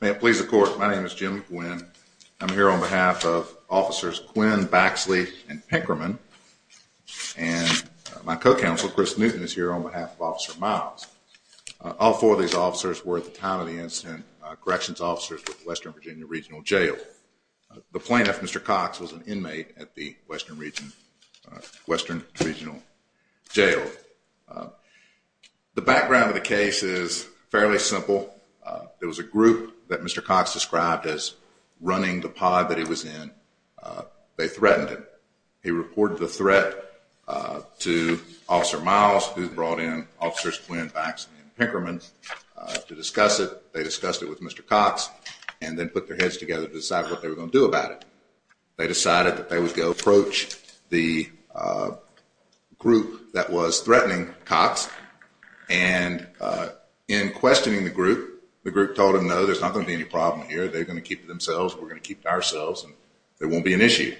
May it please the court, my name is Jim Gwynn, I'm here on behalf of officers Quinn, Baxley and Pinkerman and my co-counsel Chris Newton is here on behalf of Officer Miles. All four of these officers were at the time of the incident corrections officers with Western Virginia Regional Jail. The plaintiff, Mr. Cox, was an inmate at the Western Regional Jail. The background of the case is fairly simple. There was a group that Mr. Cox described as running the pod that he was in. They threatened him. He reported the threat to Officer Miles who brought in officers Quinn, Baxley and Pinkerman to discuss it. They discussed it with Mr. Cox and then put their heads together to decide what they were going to do about it. They decided that they would go approach the group that was threatening Cox and in questioning the group, the group told them no, there's not going to be any problem here. They're going to keep to themselves and we're going to keep to ourselves and there won't be an issue.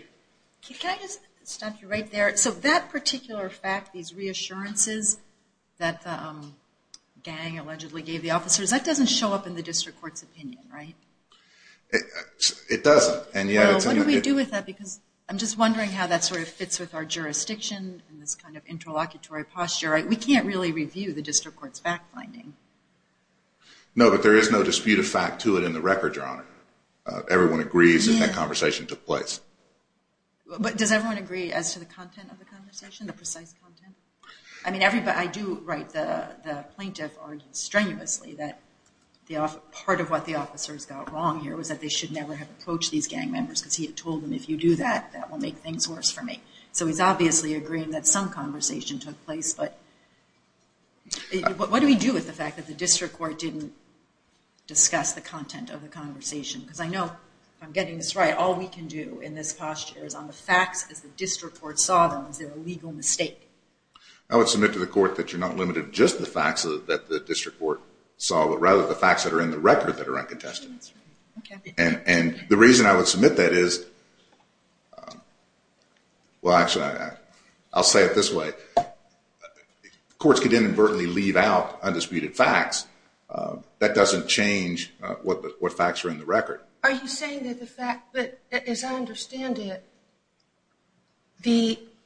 Can I just stop you right there? So that particular fact, these reassurances that the gang allegedly gave the officers, that doesn't show up in the district court's opinion, right? It doesn't. Well, what do we do with that because I'm just wondering how that sort of fits with our jurisdiction and this kind of interlocutory posture. We can't really review the district court's fact finding. No, but there is no dispute of fact to it in the record, Your Honor. Everyone agrees that that conversation took place. But does everyone agree as to the content of the conversation, the precise content? I do write the plaintiff arguments strenuously that part of what the officers got wrong here was that they should never have approached these gang members because he had told them if you do that, that will make things worse for me. So he's obviously agreeing that some conversation took place, but what do we do with the fact that the district court didn't discuss the content of the conversation? Because I know, if I'm getting this right, all we can do in this posture is on the facts as the district court saw them. Is there a legal mistake? I would submit to the court that you're not limited to just the facts that the district court saw, but rather the facts that are in the record that are uncontested. And the reason I would submit that is, well, actually, I'll say it this way. Courts can inadvertently leave out undisputed facts. That doesn't change what facts are in the record. Are you saying that the fact that, as I understand it,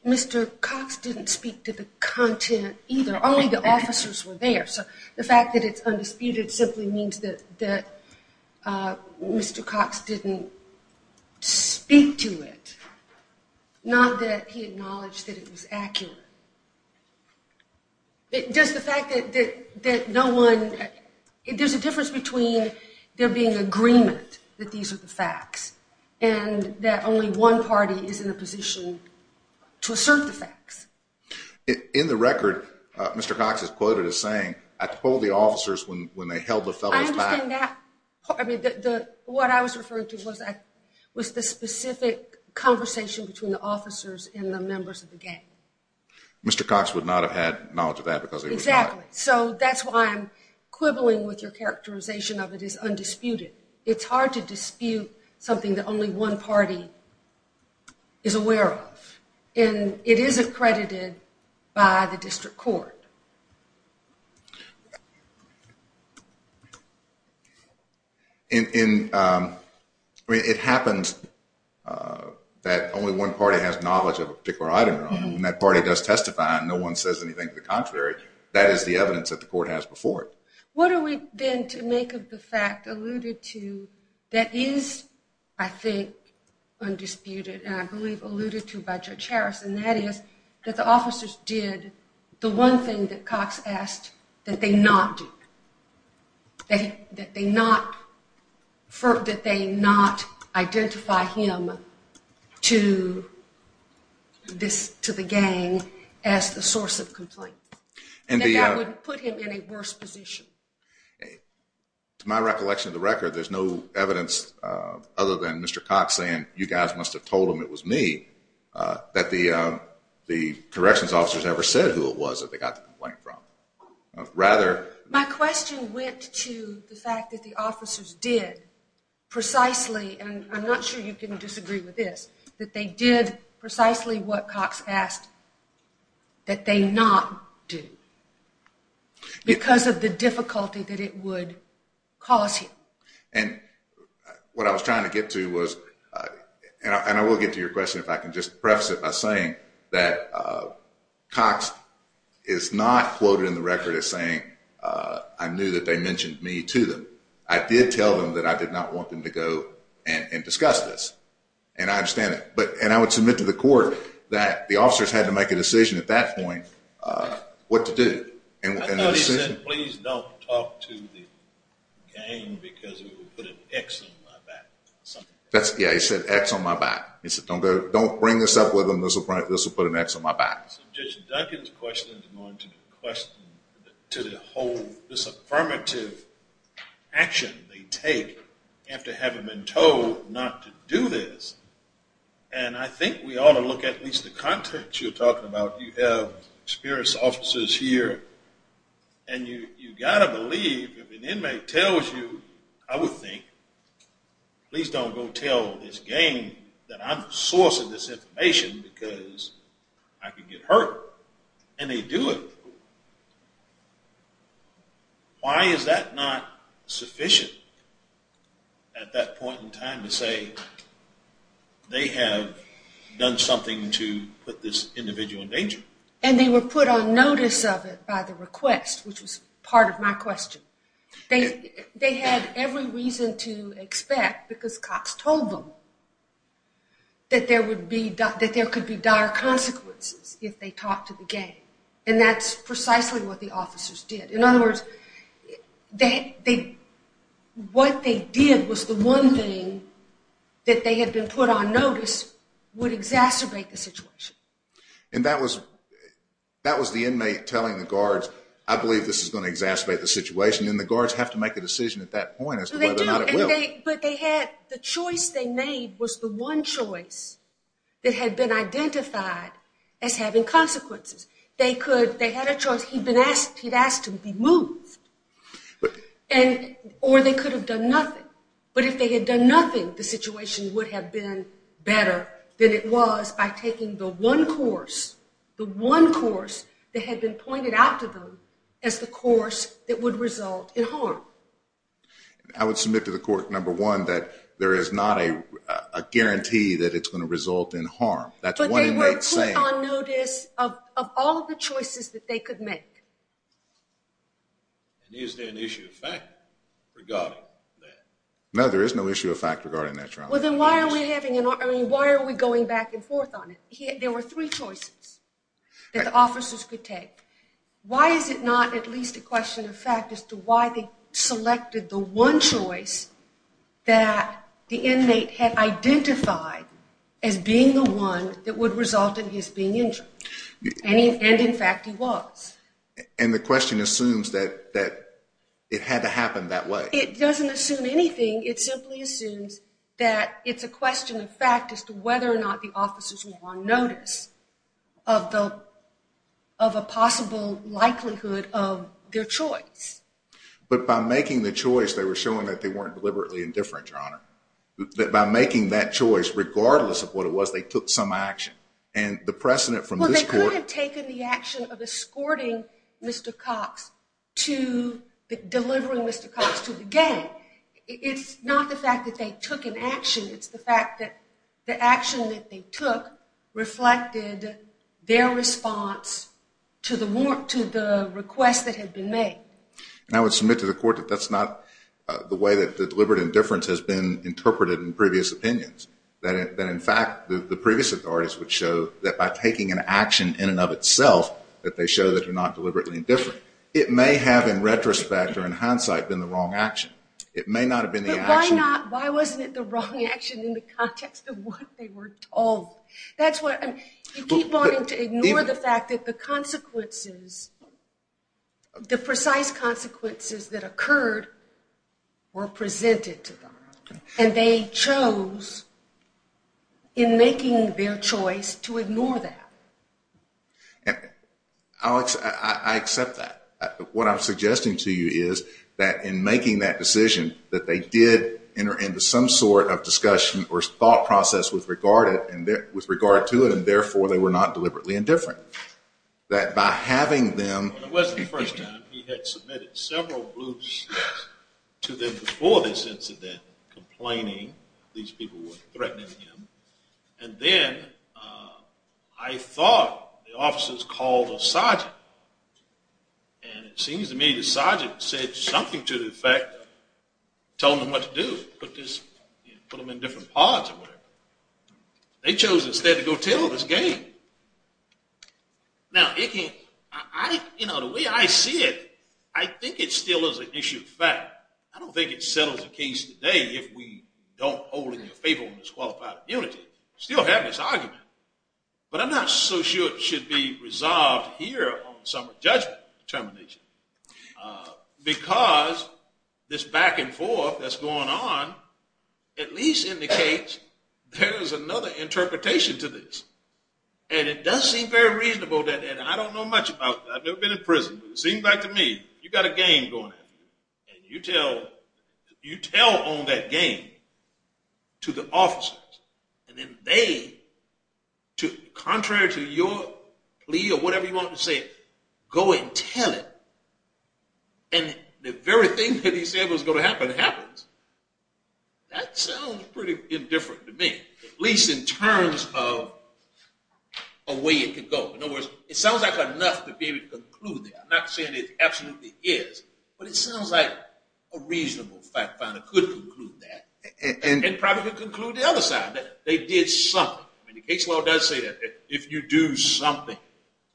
Mr. Cox didn't speak to the content either? Only the officers were there. So the fact that it's undisputed simply means that Mr. Cox didn't speak to it, not that he acknowledged that it was accurate. There's a difference between there being agreement that these are the facts and that only one party is in a position to assert the facts. In the record, Mr. Cox is quoted as saying, I told the officers when they held the fellows back. What I was referring to was the specific conversation between the officers and the members of the gang. Mr. Cox would not have had knowledge of that because he was not. Exactly. So that's why I'm quibbling with your characterization of it as undisputed. It's hard to dispute something that only one party is aware of. It is accredited by the district court. It happens that only one party has knowledge of a particular item. When that party does testify and no one says anything to the contrary, that is the evidence that the court has before it. What are we then to make of the fact alluded to that is, I think, undisputed and I believe alluded to by Judge Harris, and that is that the officers did the one thing that Cox asked that they not do. That they not identify him to the gang as the source of complaint. And that would put him in a worse position. To my recollection of the record, there's no evidence other than Mr. Cox saying, you guys must have told them it was me, that the corrections officers ever said who it was that they got the complaint from. My question went to the fact that the officers did precisely, and I'm not sure you can disagree with this, that they did precisely what Cox asked that they not do. Because of the difficulty that it would cause him. And what I was trying to get to was, and I will get to your question if I can just preface it by saying that Cox is not quoted in the record as saying, I knew that they mentioned me to them. I did tell them that I did not want them to go and discuss this. And I understand it. And I would submit to the court that the officers had to make a decision at that point what to do. I thought he said, please don't talk to the gang because it would put an X on my back. Yeah, he said, X on my back. He said, don't bring this up with them, this will put an X on my back. So Judge Duncan's question is going to be a question to the whole, this affirmative action they take after having been told not to do this. And I think we ought to look at least at the context you're talking about. You have experienced officers here, and you've got to believe if an inmate tells you, I would think, please don't go tell this gang that I'm sourcing this information because I could get hurt. And they do it. Why is that not sufficient at that point in time to say they have done something to put this individual in danger? And they were put on notice of it by the request, which was part of my question. They had every reason to expect, because Cox told them, that there could be dire consequences if they talked to the gang. And that's precisely what the officers did. In other words, what they did was the one thing that they had been put on notice would exacerbate the situation. And that was the inmate telling the guards, I believe this is going to exacerbate the situation. And the guards have to make a decision at that point as to whether or not it will. But the choice they made was the one choice that had been identified as having consequences. They had a choice. He had asked to be moved. Or they could have done nothing. But if they had done nothing, the situation would have been better than it was by taking the one course that had been pointed out to them as the course that would result in harm. I would submit to the court, number one, that there is not a guarantee that it's going to result in harm. But they were put on notice of all of the choices that they could make. And is there an issue of fact regarding that? No, there is no issue of fact regarding that trial. Well, then why are we going back and forth on it? There were three choices that the officers could take. Why is it not at least a question of fact as to why they selected the one choice that the inmate had identified as being the one that would result in his being injured? And, in fact, he was. And the question assumes that it had to happen that way. It doesn't assume anything. It simply assumes that it's a question of fact as to whether or not the officers were on notice of a possible likelihood of their choice. But by making the choice, they were showing that they weren't deliberately indifferent, Your Honor. By making that choice, regardless of what it was, they took some action. And the precedent from this court… Mr. Cox to delivering Mr. Cox to the gang, it's not the fact that they took an action. It's the fact that the action that they took reflected their response to the request that had been made. And I would submit to the court that that's not the way that deliberate indifference has been interpreted in previous opinions. That, in fact, the previous authorities would show that by taking an action in and of itself, that they show that they're not deliberately indifferent. It may have, in retrospect or in hindsight, been the wrong action. It may not have been the action… But why not? Why wasn't it the wrong action in the context of what they were told? That's what… You keep wanting to ignore the fact that the consequences, the precise consequences that occurred were presented to them. And they chose, in making their choice, to ignore that. Alex, I accept that. What I'm suggesting to you is that in making that decision, that they did enter into some sort of discussion or thought process with regard to it, and therefore they were not deliberately indifferent. That by having them… It wasn't the first time. He had submitted several groups to them before this incident, complaining these people were threatening him. And then I thought the officers called a sergeant. And it seems to me the sergeant said something to the effect, told them what to do, put them in different pods or whatever. They chose instead to go tell this game. Now, it can… You know, the way I see it, I think it still is an issue of fact. I don't think it settles the case today if we don't hold it in favor of disqualified immunity. Still have this argument. But I'm not so sure it should be resolved here on some judgment determination. Because this back and forth that's going on at least indicates there is another interpretation to this. And it does seem very reasonable. And I don't know much about that. I've never been in prison. But it seems like to me you've got a game going. And you tell on that game to the officers. And then they, contrary to your plea or whatever you want to say, go and tell it. And the very thing that he said was going to happen happens. That sounds pretty indifferent to me. At least in terms of a way it could go. In other words, it sounds like enough to be able to conclude that. I'm not saying it absolutely is. But it sounds like a reasonable fact finder could conclude that. And probably could conclude the other side. They did something. The case law does say that. If you do something.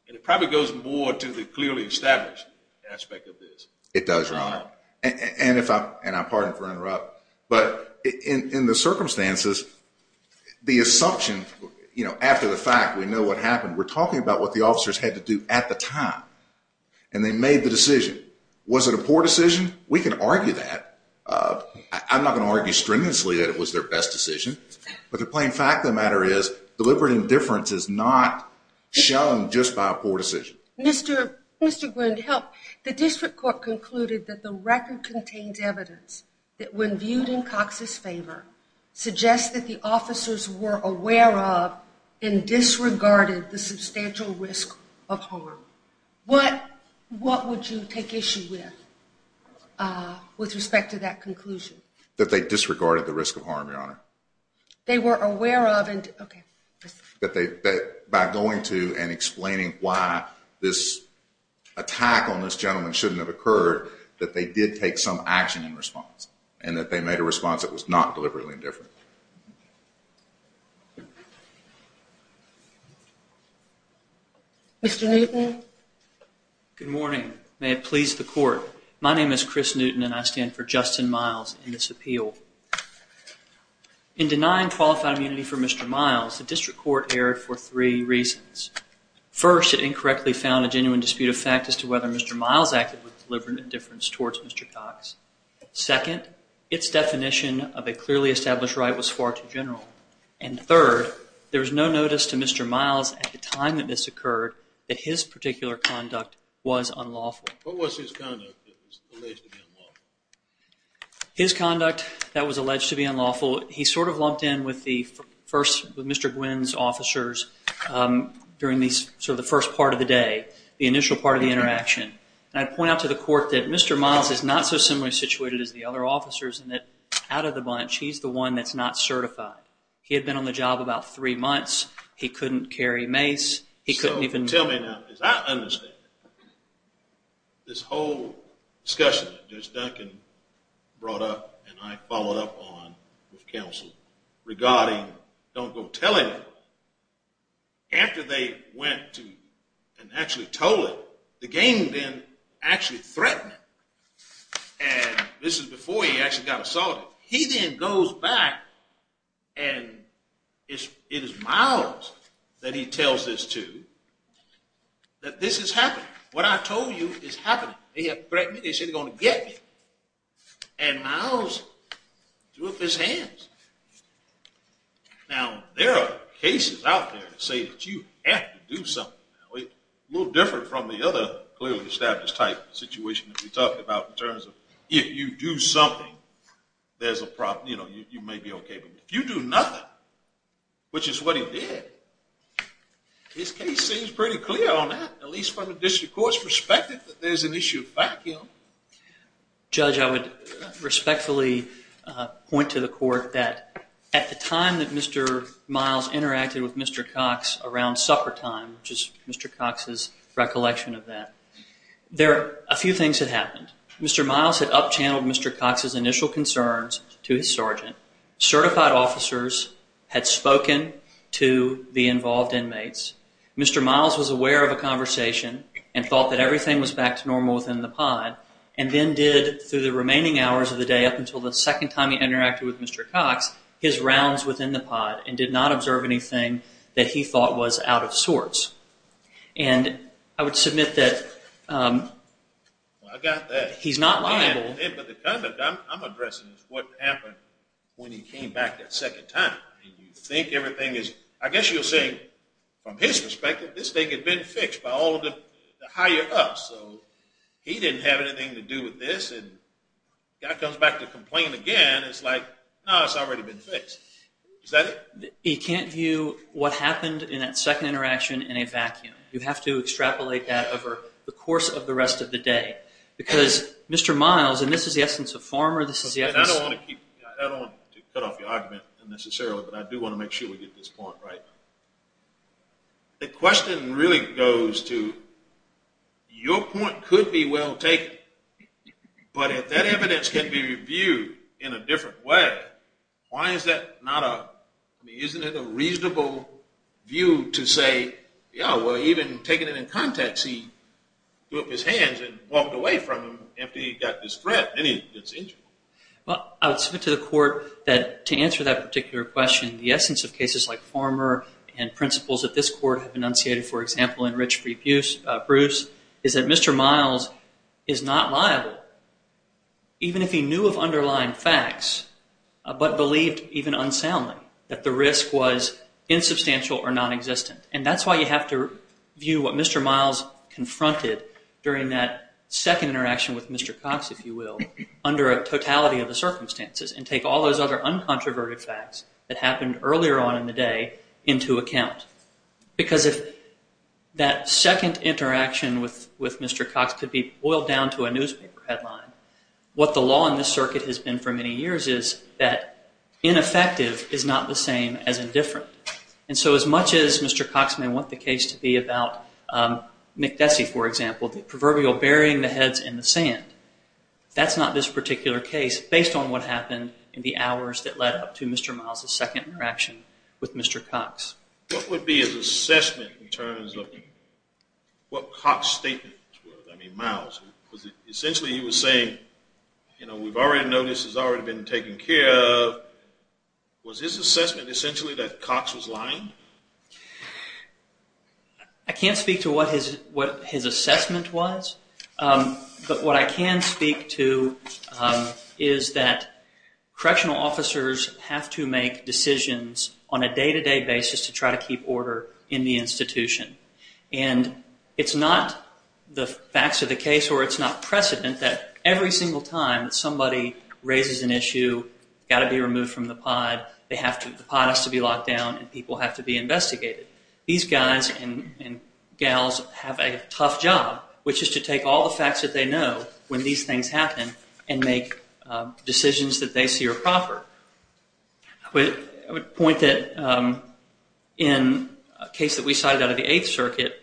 And it probably goes more to the clearly established aspect of this. It does, Your Honor. And I pardon for interrupting. But in the circumstances, the assumption after the fact, we know what happened. We're talking about what the officers had to do at the time. And they made the decision. Was it a poor decision? We can argue that. I'm not going to argue strenuously that it was their best decision. But the plain fact of the matter is deliberate indifference is not shown just by a poor decision. Mr. Grund, help. The district court concluded that the record contains evidence that when viewed in Cox's favor, suggests that the officers were aware of and disregarded the substantial risk of harm. What would you take issue with with respect to that conclusion? That they disregarded the risk of harm, Your Honor. They were aware of and, okay. That by going to and explaining why this attack on this gentleman shouldn't have occurred, that they did take some action in response. And that they made a response that was not deliberately indifferent. Mr. Newton. Good morning. May it please the court. My name is Chris Newton, and I stand for Justin Miles in this appeal. In denying qualified immunity for Mr. Miles, the district court erred for three reasons. First, it incorrectly found a genuine dispute of fact as to whether Mr. Miles acted with deliberate indifference towards Mr. Cox. Second, its definition of a clearly established right was far too general. And third, there was no notice to Mr. Miles at the time that this occurred that his particular conduct was unlawful. What was his conduct that was alleged to be unlawful? His conduct that was alleged to be unlawful, he sort of lumped in with Mr. Gwinn's officers during the first part of the day, the initial part of the interaction. And I'd point out to the court that Mr. Miles is not so similarly situated as the other officers and that out of the bunch, he's the one that's not certified. He had been on the job about three months. He couldn't carry mace. So tell me now, as I understand it, this whole discussion that Judge Duncan brought up and I followed up on with counsel regarding don't go telling anybody, after they went and actually told it, the gang then actually threatened him. And this is before he actually got assaulted. So he then goes back and it is Miles that he tells this to that this is happening. What I told you is happening. They threatened me. They said they're going to get me. And Miles threw up his hands. Now, there are cases out there that say that you have to do something. A little different from the other clearly established type of situation that we talked about in terms of if you do something, there's a problem. You may be OK. But if you do nothing, which is what he did, his case seems pretty clear on that, at least from a district court's perspective, that there's an issue of vacuum. Judge, I would respectfully point to the court that at the time that Mr. Miles interacted with Mr. Cox around supper time, which is Mr. Cox's recollection of that, there are a few things that happened. Mr. Miles had up-channeled Mr. Cox's initial concerns to his sergeant. Certified officers had spoken to the involved inmates. Mr. Miles was aware of a conversation and thought that everything was back to normal within the pod and then did, through the remaining hours of the day up until the second time he interacted with Mr. Cox, his rounds within the pod and did not observe anything that he thought was out of sorts. And I would submit that he's not liable. I got that. But the comment I'm addressing is what happened when he came back that second time. You think everything is, I guess you're saying from his perspective, this thing had been fixed by all of the higher-ups. So he didn't have anything to do with this, and the guy comes back to complain again. It's like, no, it's already been fixed. Is that it? He can't view what happened in that second interaction in a vacuum. You have to extrapolate that over the course of the rest of the day. Because Mr. Miles, and this is the essence of farmer. I don't want to cut off your argument unnecessarily, but I do want to make sure we get this point right. The question really goes to your point could be well taken, but if that evidence can be reviewed in a different way, why is that not a, isn't it a reasonable view to say, yeah, well, even taking it in context, he threw up his hands and walked away from him after he got this threat. Well, I would submit to the court that to answer that particular question, the essence of cases like farmer and principles of this court have enunciated, for example, in Rich Bruce, is that Mr. Miles is not liable, even if he knew of underlying facts but believed, even unsoundly, that the risk was insubstantial or nonexistent. And that's why you have to view what Mr. Miles confronted during that second interaction with Mr. Cox, if you will, under a totality of the circumstances and take all those other uncontroverted facts that happened earlier on in the day into account. Because if that second interaction with Mr. Cox could be boiled down to a newspaper headline, what the law in this circuit has been for many years is that ineffective is not the same as indifferent. And so as much as Mr. Cox may want the case to be about McDessie, for example, the proverbial burying the heads in the sand, that's not this particular case based on what happened in the hours What would be his assessment in terms of what Cox's statements were? I mean, Miles. Essentially he was saying, you know, we already know this has already been taken care of. Was his assessment essentially that Cox was lying? I can't speak to what his assessment was, but what I can speak to is that correctional officers have to make decisions on a day-to-day basis to try to keep order in the institution. And it's not the facts of the case, or it's not precedent, that every single time that somebody raises an issue, got to be removed from the pod, the pod has to be locked down and people have to be investigated. These guys and gals have a tough job, which is to take all the facts that they know when these things happen and make decisions that they see are proper. I would point that in a case that we cited out of the Eighth Circuit,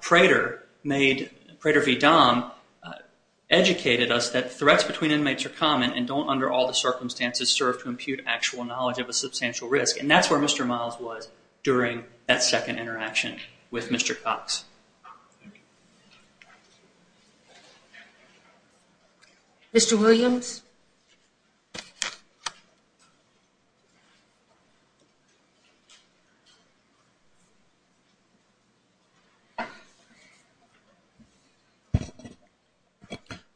Prater made, Prater v. Dahm, educated us that threats between inmates are common and don't, under all the circumstances, serve to impute actual knowledge of a substantial risk. And that's where Mr. Miles was during that second interaction with Mr. Cox. Mr. Williams?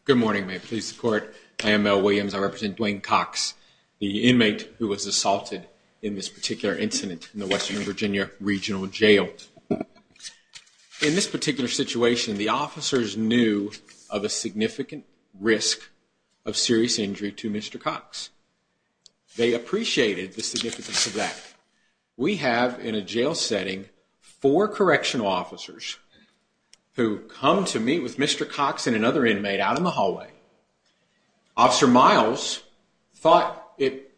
Good morning. May it please the Court, I am Mel Williams. I represent Dwayne Cox, the inmate who was assaulted in this particular incident in the Western Virginia Regional Jail. In this particular situation, the officers knew of a significant risk of serious injury to Mr. Cox. They appreciated the significance of that. We have, in a jail setting, four correctional officers who come to meet with Mr. Cox and another inmate out in the hallway. Officer Miles thought it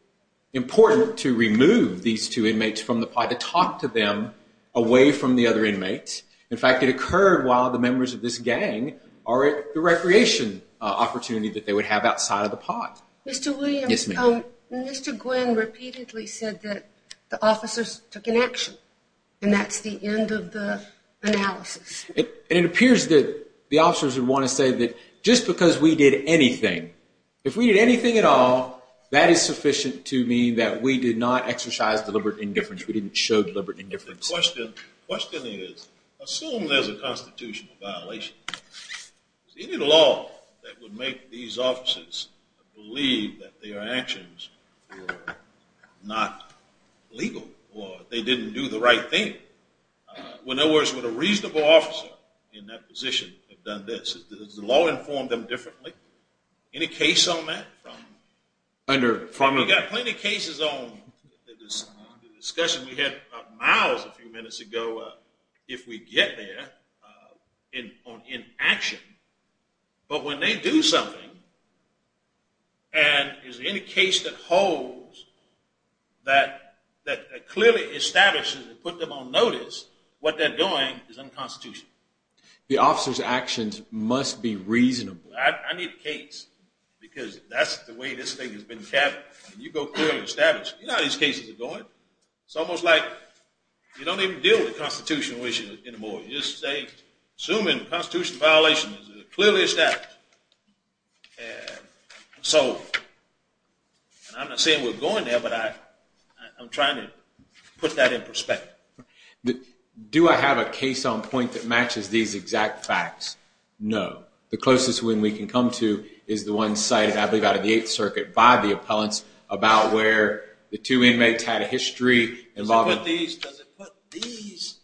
important to remove these two inmates from the pod, to talk to them away from the other inmates. In fact, it occurred while the members of this gang are at the recreation opportunity that they would have outside of the pod. Mr. Williams? Yes, ma'am. Mr. Gwinn repeatedly said that the officers took an action, and that's the end of the analysis. It appears that the officers would want to say that just because we did anything, if we did anything at all, that is sufficient to mean that we did not exercise deliberate indifference. We didn't show deliberate indifference. The question is, assume there's a constitutional violation. Is there any law that would make these officers believe that their actions were not legal or they didn't do the right thing? In other words, would a reasonable officer in that position have done this? Does the law inform them differently? Any case on that? We've got plenty of cases on the discussion. We had Miles a few minutes ago, if we get there, in action. But when they do something, and there's any case that holds that clearly establishes and puts them on notice, what they're doing is unconstitutional. The officers' actions must be reasonable. I need a case because that's the way this thing has been kept. You go clearly establish, you know how these cases are going. It's almost like you don't even deal with the constitutional issue anymore. You just say, assuming constitutional violation is clearly established. And so I'm not saying we're going there, but I'm trying to put that in perspective. Do I have a case on point that matches these exact facts? No. The closest one we can come to is the one cited, I believe, out of the Eighth Circuit by the appellants about where the two inmates had a history involving- Does it put these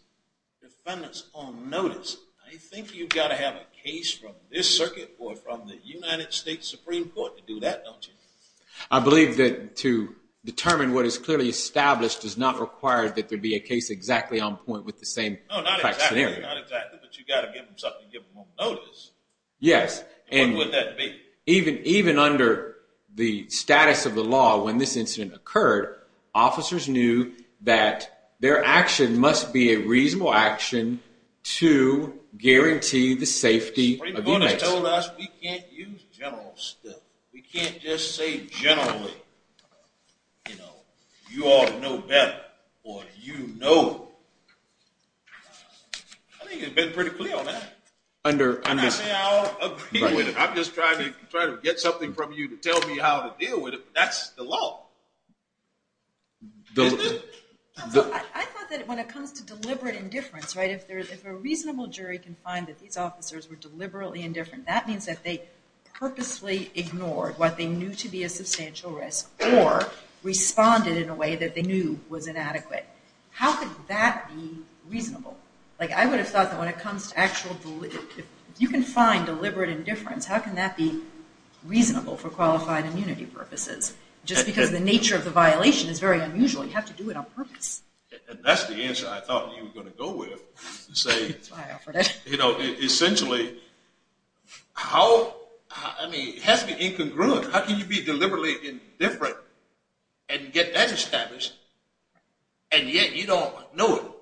defendants on notice? I think you've got to have a case from this circuit or from the United States Supreme Court to do that, don't you? I believe that to determine what is clearly established does not require that there be a case exactly on point with the same exact scenario. Not exactly, but you've got to give them something to give them on notice. Yes. And what would that be? Even under the status of the law when this incident occurred, officers knew that their action must be a reasonable action to guarantee the safety of the inmates. The Supreme Court has told us we can't use general stuff. We can't just say generally, you know, I think it's been pretty clear on that. I'm not saying I'll agree with it. I'm just trying to get something from you to tell me how to deal with it, but that's the law, isn't it? I thought that when it comes to deliberate indifference, right, if a reasonable jury can find that these officers were deliberately indifferent, that means that they purposely ignored what they knew to be a substantial risk or responded in a way that they knew was inadequate. How could that be reasonable? Like I would have thought that when it comes to actual, if you can find deliberate indifference, how can that be reasonable for qualified immunity purposes? Just because the nature of the violation is very unusual, you have to do it on purpose. And that's the answer I thought you were going to go with. You know, essentially, how, I mean, it has to be incongruent. How can you be deliberately indifferent and get that established, and yet you don't know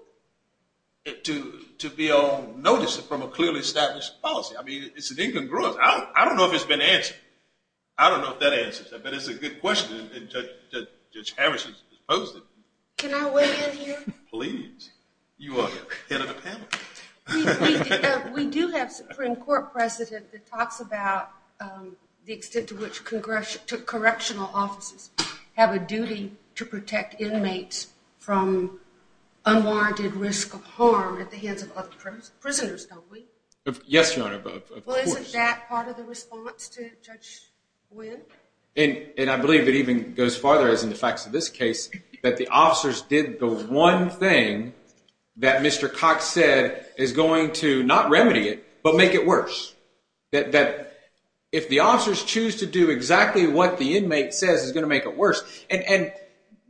it to be noticed from a clearly established policy? I mean, it's incongruent. I don't know if it's been answered. I don't know if that answers that, but it's a good question, and Judge Harris has posed it. Can I weigh in here? Please. You are the head of the panel. We do have a Supreme Court president that talks about the extent to which correctional offices have a duty to protect inmates from unwarranted risk of harm at the hands of other prisoners, don't we? Yes, Your Honor, of course. Well, isn't that part of the response to Judge Wynn? And I believe it even goes farther, as in the facts of this case, that the officers did the one thing that Mr. Cox said is going to not remedy it, but make it worse. If the officers choose to do exactly what the inmate says is going to make it worse, and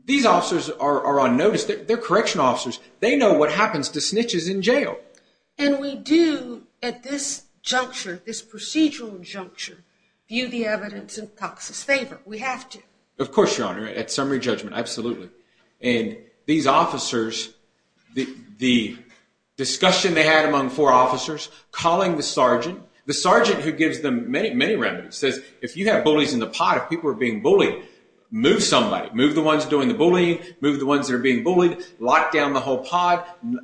these officers are on notice. They're correctional officers. They know what happens to snitches in jail. And we do, at this juncture, this procedural juncture, view the evidence in Cox's favor. We have to. Of course, Your Honor, at summary judgment, absolutely. And these officers, the discussion they had among four officers, calling the sergeant. The sergeant, who gives them many, many remedies, says if you have bullies in the pod, if people are being bullied, move somebody. Move the ones doing the bullying. Move the ones that are being bullied. Lock down the whole pod.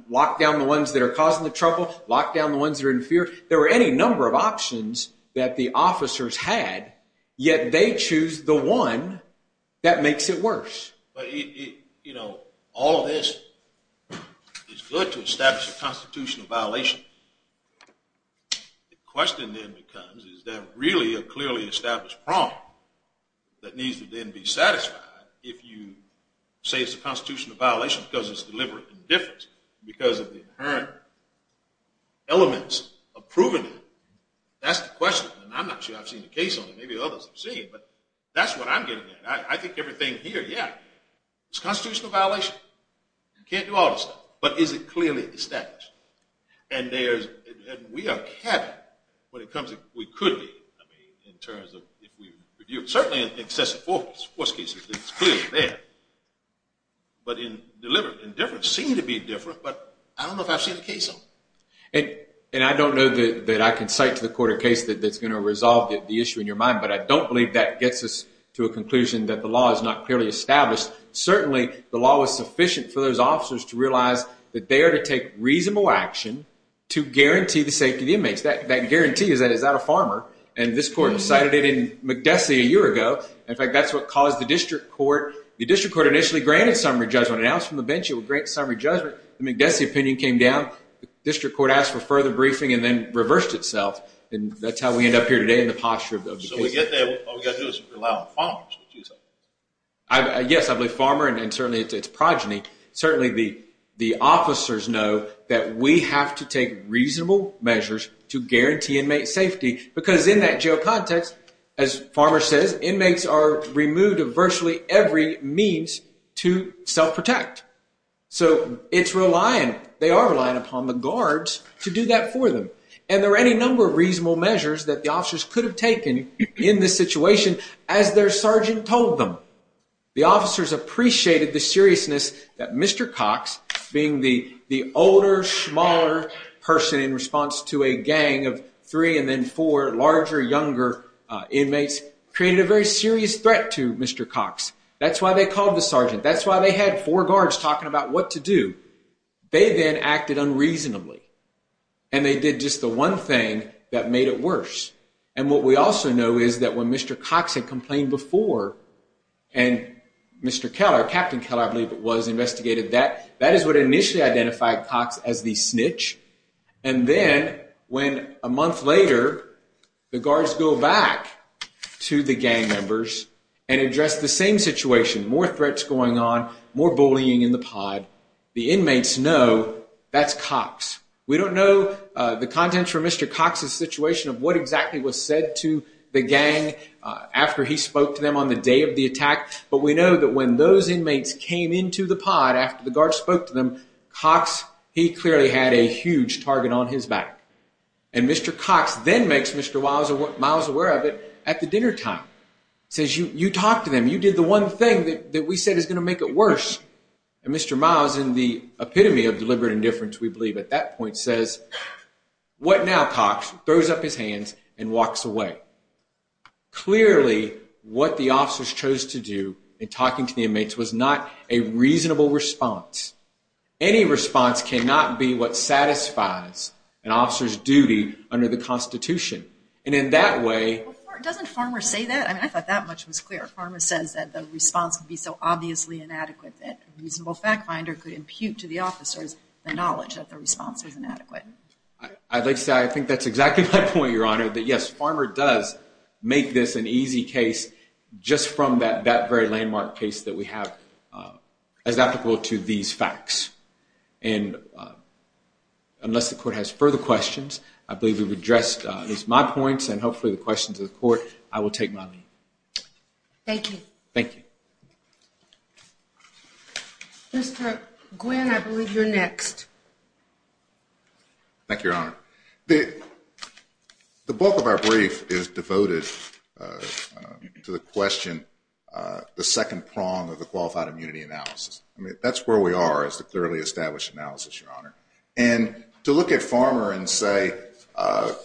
Lock down the ones that are causing the trouble. Lock down the ones that are in fear. There were any number of options that the officers had, yet they choose the one that makes it worse. But all of this is good to establish a constitutional violation. The question then becomes, is there really a clearly established problem that needs to then be satisfied if you say it's a constitutional violation because it's deliberate indifference, because of the inherent elements of proving it. That's the question. And I'm not sure I've seen a case on it. Maybe others have seen it. But that's what I'm getting at. I think everything here, yeah, it's a constitutional violation. You can't do all this stuff. But is it clearly established? And we are capping when it comes to what we could be in terms of, certainly in excessive force cases, it's clearly there. But deliberate indifference seems to be different, but I don't know if I've seen a case on it. And I don't know that I can cite to the court a case that's going to resolve the issue in your mind, but I don't believe that gets us to a conclusion that the law is not clearly established. Certainly the law was sufficient for those officers to realize that they are to take reasonable action to guarantee the safety of the inmates. That guarantee, is that a farmer? And this court cited it in McDessie a year ago. In fact, that's what caused the district court. The district court initially granted summary judgment, announced from the bench it would grant summary judgment. The McDessie opinion came down. The district court asked for further briefing and then reversed itself. And that's how we end up here today in the posture of the case. So we get there, all we got to do is rely on farmers. Yes, I believe farmer and certainly it's progeny. Certainly the officers know that we have to take reasonable measures to guarantee inmate safety. Because in that jail context, as farmer says, inmates are removed of virtually every means to self-protect. So it's relying, they are relying upon the guards to do that for them. And there are any number of reasonable measures that the officers could have taken in this situation as their sergeant told them. The officers appreciated the seriousness that Mr. Cox, being the older, smaller person in response to a gang of three and then four larger, younger inmates, created a very serious threat to Mr. Cox. That's why they called the sergeant. That's why they had four guards talking about what to do. They then acted unreasonably. And they did just the one thing that made it worse. And what we also know is that when Mr. Cox had complained before and Mr. Keller, Captain Keller I believe it was, investigated that, that is what initially identified Cox as the snitch. And then when a month later, the guards go back to the gang members and address the same situation. More threats going on, more bullying in the pod. The inmates know that's Cox. We don't know the contents from Mr. Cox's situation of what exactly was said to the gang after he spoke to them on the day of the attack. But we know that when those inmates came into the pod after the guards spoke to them, Cox, he clearly had a huge target on his back. And Mr. Cox then makes Mr. Miles aware of it at the dinner time. He says, you talked to them, you did the one thing that we said is going to make it worse. And Mr. Miles, in the epitome of deliberate indifference, we believe at that point, says, what now, Cox? Throws up his hands and walks away. Clearly what the officers chose to do in talking to the inmates was not a reasonable response. Any response cannot be what satisfies an officer's duty under the Constitution. And in that way... Doesn't Farmer say that? I thought that much was clear. Farmer says that the response would be so obviously inadequate that a response was inadequate. I'd like to say I think that's exactly my point, Your Honor, that yes, Farmer does make this an easy case just from that very landmark case that we have as applicable to these facts. And unless the court has further questions, I believe we've addressed at least my points and hopefully the questions of the court, I will take my leave. Thank you. Thank you. Mr. Gwynne, I believe you're next. Thank you, Your Honor. The bulk of our brief is devoted to the question, the second prong of the qualified immunity analysis. I mean, that's where we are is the clearly established analysis, Your Honor. And to look at Farmer and say,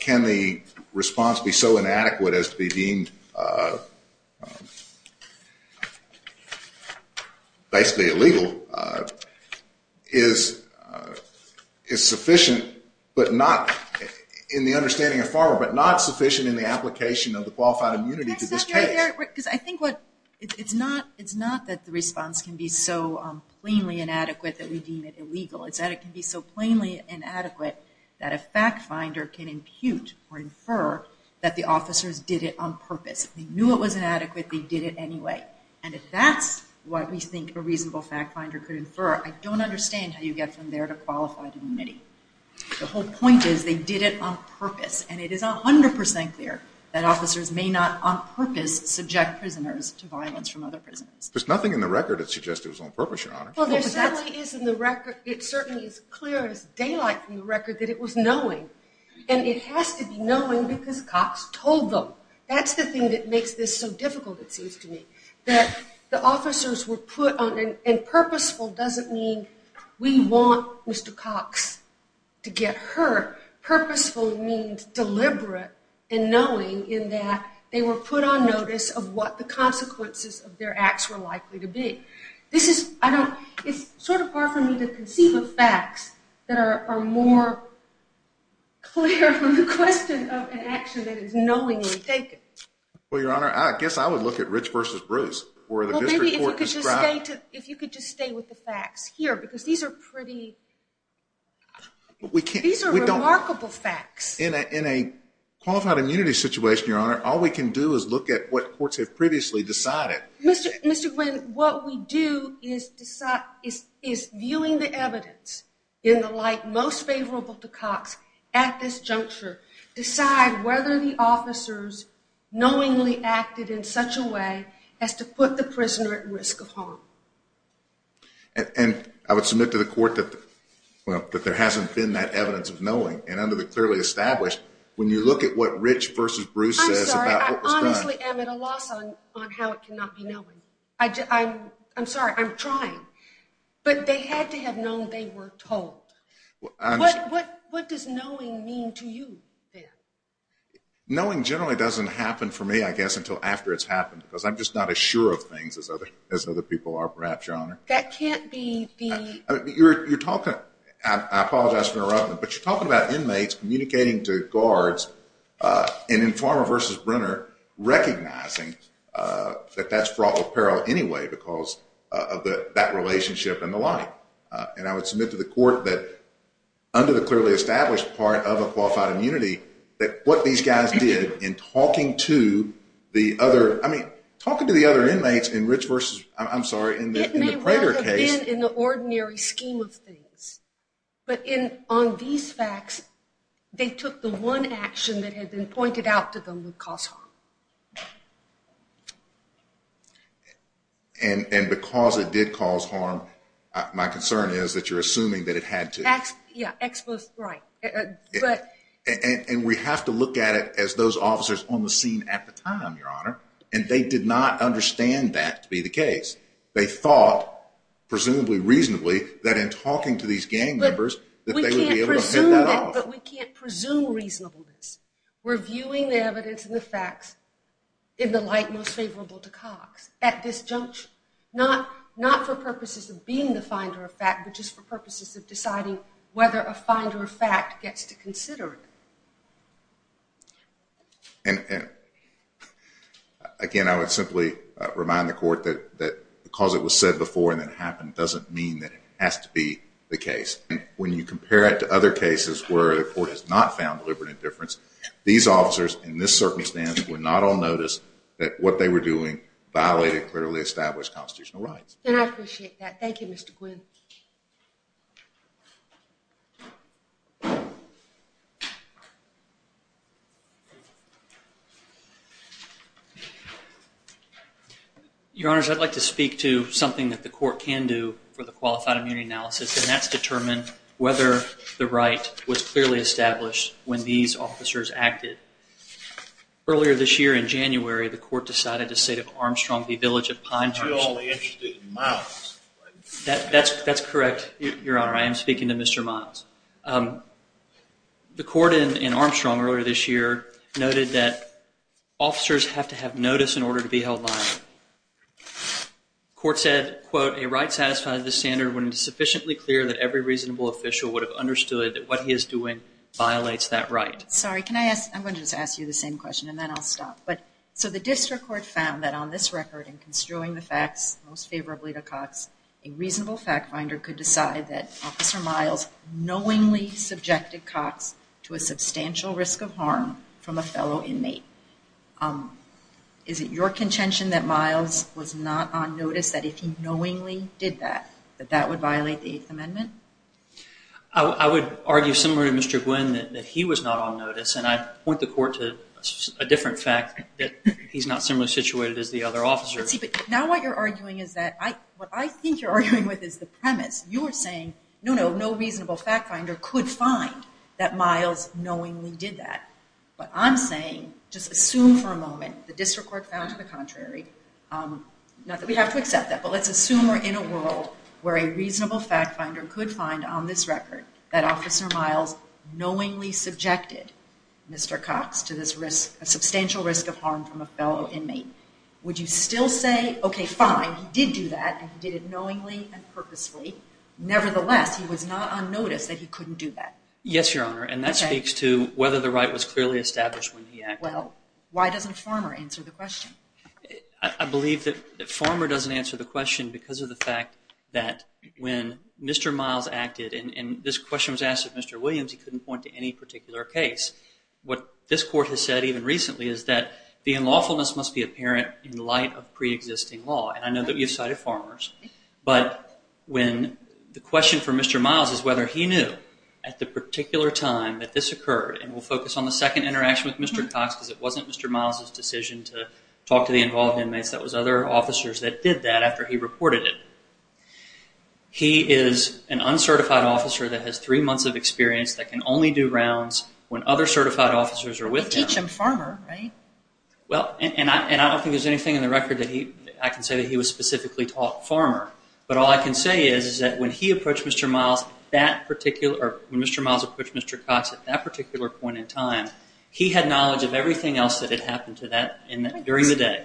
can the response be so inadequate as to be deemed basically illegal, is sufficient but not, in the understanding of Farmer, but not sufficient in the application of the qualified immunity to this case. Because I think what, it's not that the response can be so plainly inadequate that we deem it illegal. It's that it can be so plainly inadequate that a fact finder can impute or infer that the officers did it on purpose. They knew it was inadequate. They did it anyway. And if that's what we think a reasonable fact finder could infer, I don't understand how you get from there to qualified immunity. The whole point is they did it on purpose. And it is 100% clear that officers may not on purpose subject prisoners to violence from other prisoners. There's nothing in the record that suggests it was on purpose, Your Honor. Well, there certainly is in the record, it certainly is clear as daylight from the record that it was knowing. And it has to be knowing because Cox told them. That's the thing that makes this so difficult, it seems to me. That the officers were put on, and purposeful doesn't mean we want Mr. Cox to get hurt. Purposeful means deliberate and knowing in that they were put on notice of what the consequences of their acts were likely to be. It's sort of hard for me to conceive of facts that are more clear from the question of an action that is knowingly taken. Well, Your Honor, I guess I would look at Rich versus Bruce. Well, maybe if you could just stay with the facts here, because these are pretty remarkable facts. In a qualified immunity situation, Your Honor, all we can do is look at what courts have previously decided. Mr. Quinn, what we do is viewing the evidence in the light most favorable to Cox at this juncture, decide whether the officers knowingly acted in such a way as to put the prisoner at risk of harm. And I would submit to the court that there hasn't been that evidence of knowing, and under the clearly established, I honestly am at a loss on how it cannot be knowing. I'm sorry, I'm trying. But they had to have known they were told. What does knowing mean to you then? Knowing generally doesn't happen for me, I guess, until after it's happened because I'm just not as sure of things as other people are, perhaps, Your Honor. That can't be the... You're talking, I apologize for interrupting, but you're talking about inmates communicating to guards, and in Farmer versus Brenner, recognizing that that's fraught with peril anyway because of that relationship and the line. And I would submit to the court that under the clearly established part of a qualified immunity, that what these guys did in talking to the other, I mean, talking to the other inmates in Rich versus, I'm sorry, in the Prater case. It may well have been in the ordinary scheme of things. But on these facts, they took the one action that had been pointed out to them would cause harm. And because it did cause harm, my concern is that you're assuming that it had to. Yeah, exposed, right. And we have to look at it as those officers on the scene at the time, they thought, presumably reasonably, that in talking to these gang members that they would be able to hit that off. But we can't presume reasonableness. We're viewing the evidence and the facts in the light most favorable to Cox at this juncture. Not for purposes of being the finder of fact, but just for purposes of deciding whether a finder of fact gets to consider it. And again, I would simply remind the court that because it was said before and it happened, it doesn't mean that it has to be the case. When you compare it to other cases where the court has not found deliberate indifference, these officers, in this circumstance, were not on notice that what they were doing violated clearly established constitutional rights. And I appreciate that. Thank you, Mr. Quinn. Your Honors, I'd like to speak to something that the court can do for the qualified immunity analysis. And that's determine whether the right was clearly established when these officers acted. Earlier this year, in January, the court decided the state of Armstrong, the village of Pine. That's correct, Your Honor. I am speaking to Mr. Miles. The court in Armstrong earlier this year noted that officers have to have notice in order to be held liable. The court said, quote, a right satisfied the standard when it is sufficiently clear that every reasonable official would have understood that what he is doing violates that right. Sorry, can I ask? I'm going to just ask you the same question and then I'll stop. So the district court found that on this record, in construing the facts most favorably to Cox, a reasonable fact finder could decide that Officer Miles knowingly subjected Cox to a substantial risk of harm from a fellow inmate. Is it your contention that Miles was not on notice, that if he knowingly did that, that that would violate the Eighth Amendment? I would argue similar to Mr. Quinn, that he was not on notice. And I point the court to a different fact, that he's not similarly situated as the other officers. Let's see, but now what you're arguing is that, what I think you're arguing with is the premise. You're saying, no, no, no reasonable fact finder could find that Miles knowingly did that. But I'm saying, just assume for a moment, the district court found to the contrary, not that we have to accept that, but let's assume we're in a world where a reasonable fact finder could find on this record that Officer Miles knowingly subjected Mr. Cox to this risk, a substantial risk of harm from a fellow inmate. Would you still say, okay, fine, he did do that, and he did it knowingly and purposely. Nevertheless, he was not on notice that he couldn't do that. Yes, Your Honor. And that speaks to whether the right was clearly established when he acted. Well, why doesn't Farmer answer the question? I believe that Farmer doesn't answer the question because of the fact that when Mr. Miles acted, and this question was asked of Mr. Williams, he couldn't point to any particular case. What this court has said, even recently, is that the unlawfulness must be apparent in light of preexisting law. And I know that you've cited Farmer's. But when the question for Mr. Miles is whether he knew at the particular time that this occurred, and we'll focus on the second interaction with Mr. Cox because it wasn't Mr. Miles' decision to talk to the involved inmates, that was other officers that did that after he reported it. He is an uncertified officer that has three months of experience that can only do rounds when other certified officers are with him. He approached him Farmer, right? Well, and I don't think there's anything in the record that I can say that he was specifically talking to Farmer. But all I can say is that when he approached Mr. Miles, that particular, or when Mr. Miles approached Mr. Cox at that particular point in time, he had knowledge of everything else that had happened to that during the day.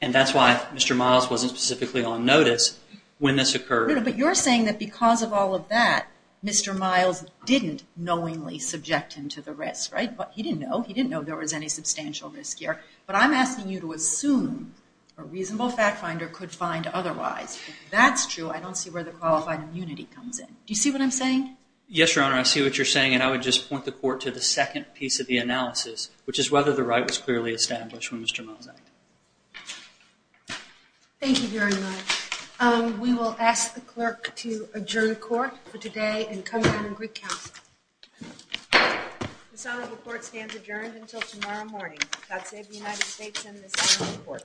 And that's why Mr. Miles wasn't specifically on notice when this occurred. But you're saying that because of all of that, Mr. Miles didn't knowingly subject him to the risk, right? He didn't know. He didn't know there was any substantial risk here. But I'm asking you to assume a reasonable fact finder could find otherwise. If that's true, I don't see where the qualified immunity comes in. Do you see what I'm saying? Yes, Your Honor. I see what you're saying. And I would just point the court to the second piece of the analysis, which is whether the right was clearly established when Mr. Miles acted. Thank you very much. We will ask the clerk to adjourn court for today and come down to Greek Council. The Senate report stands adjourned until tomorrow morning. God save the United States and the Senate report.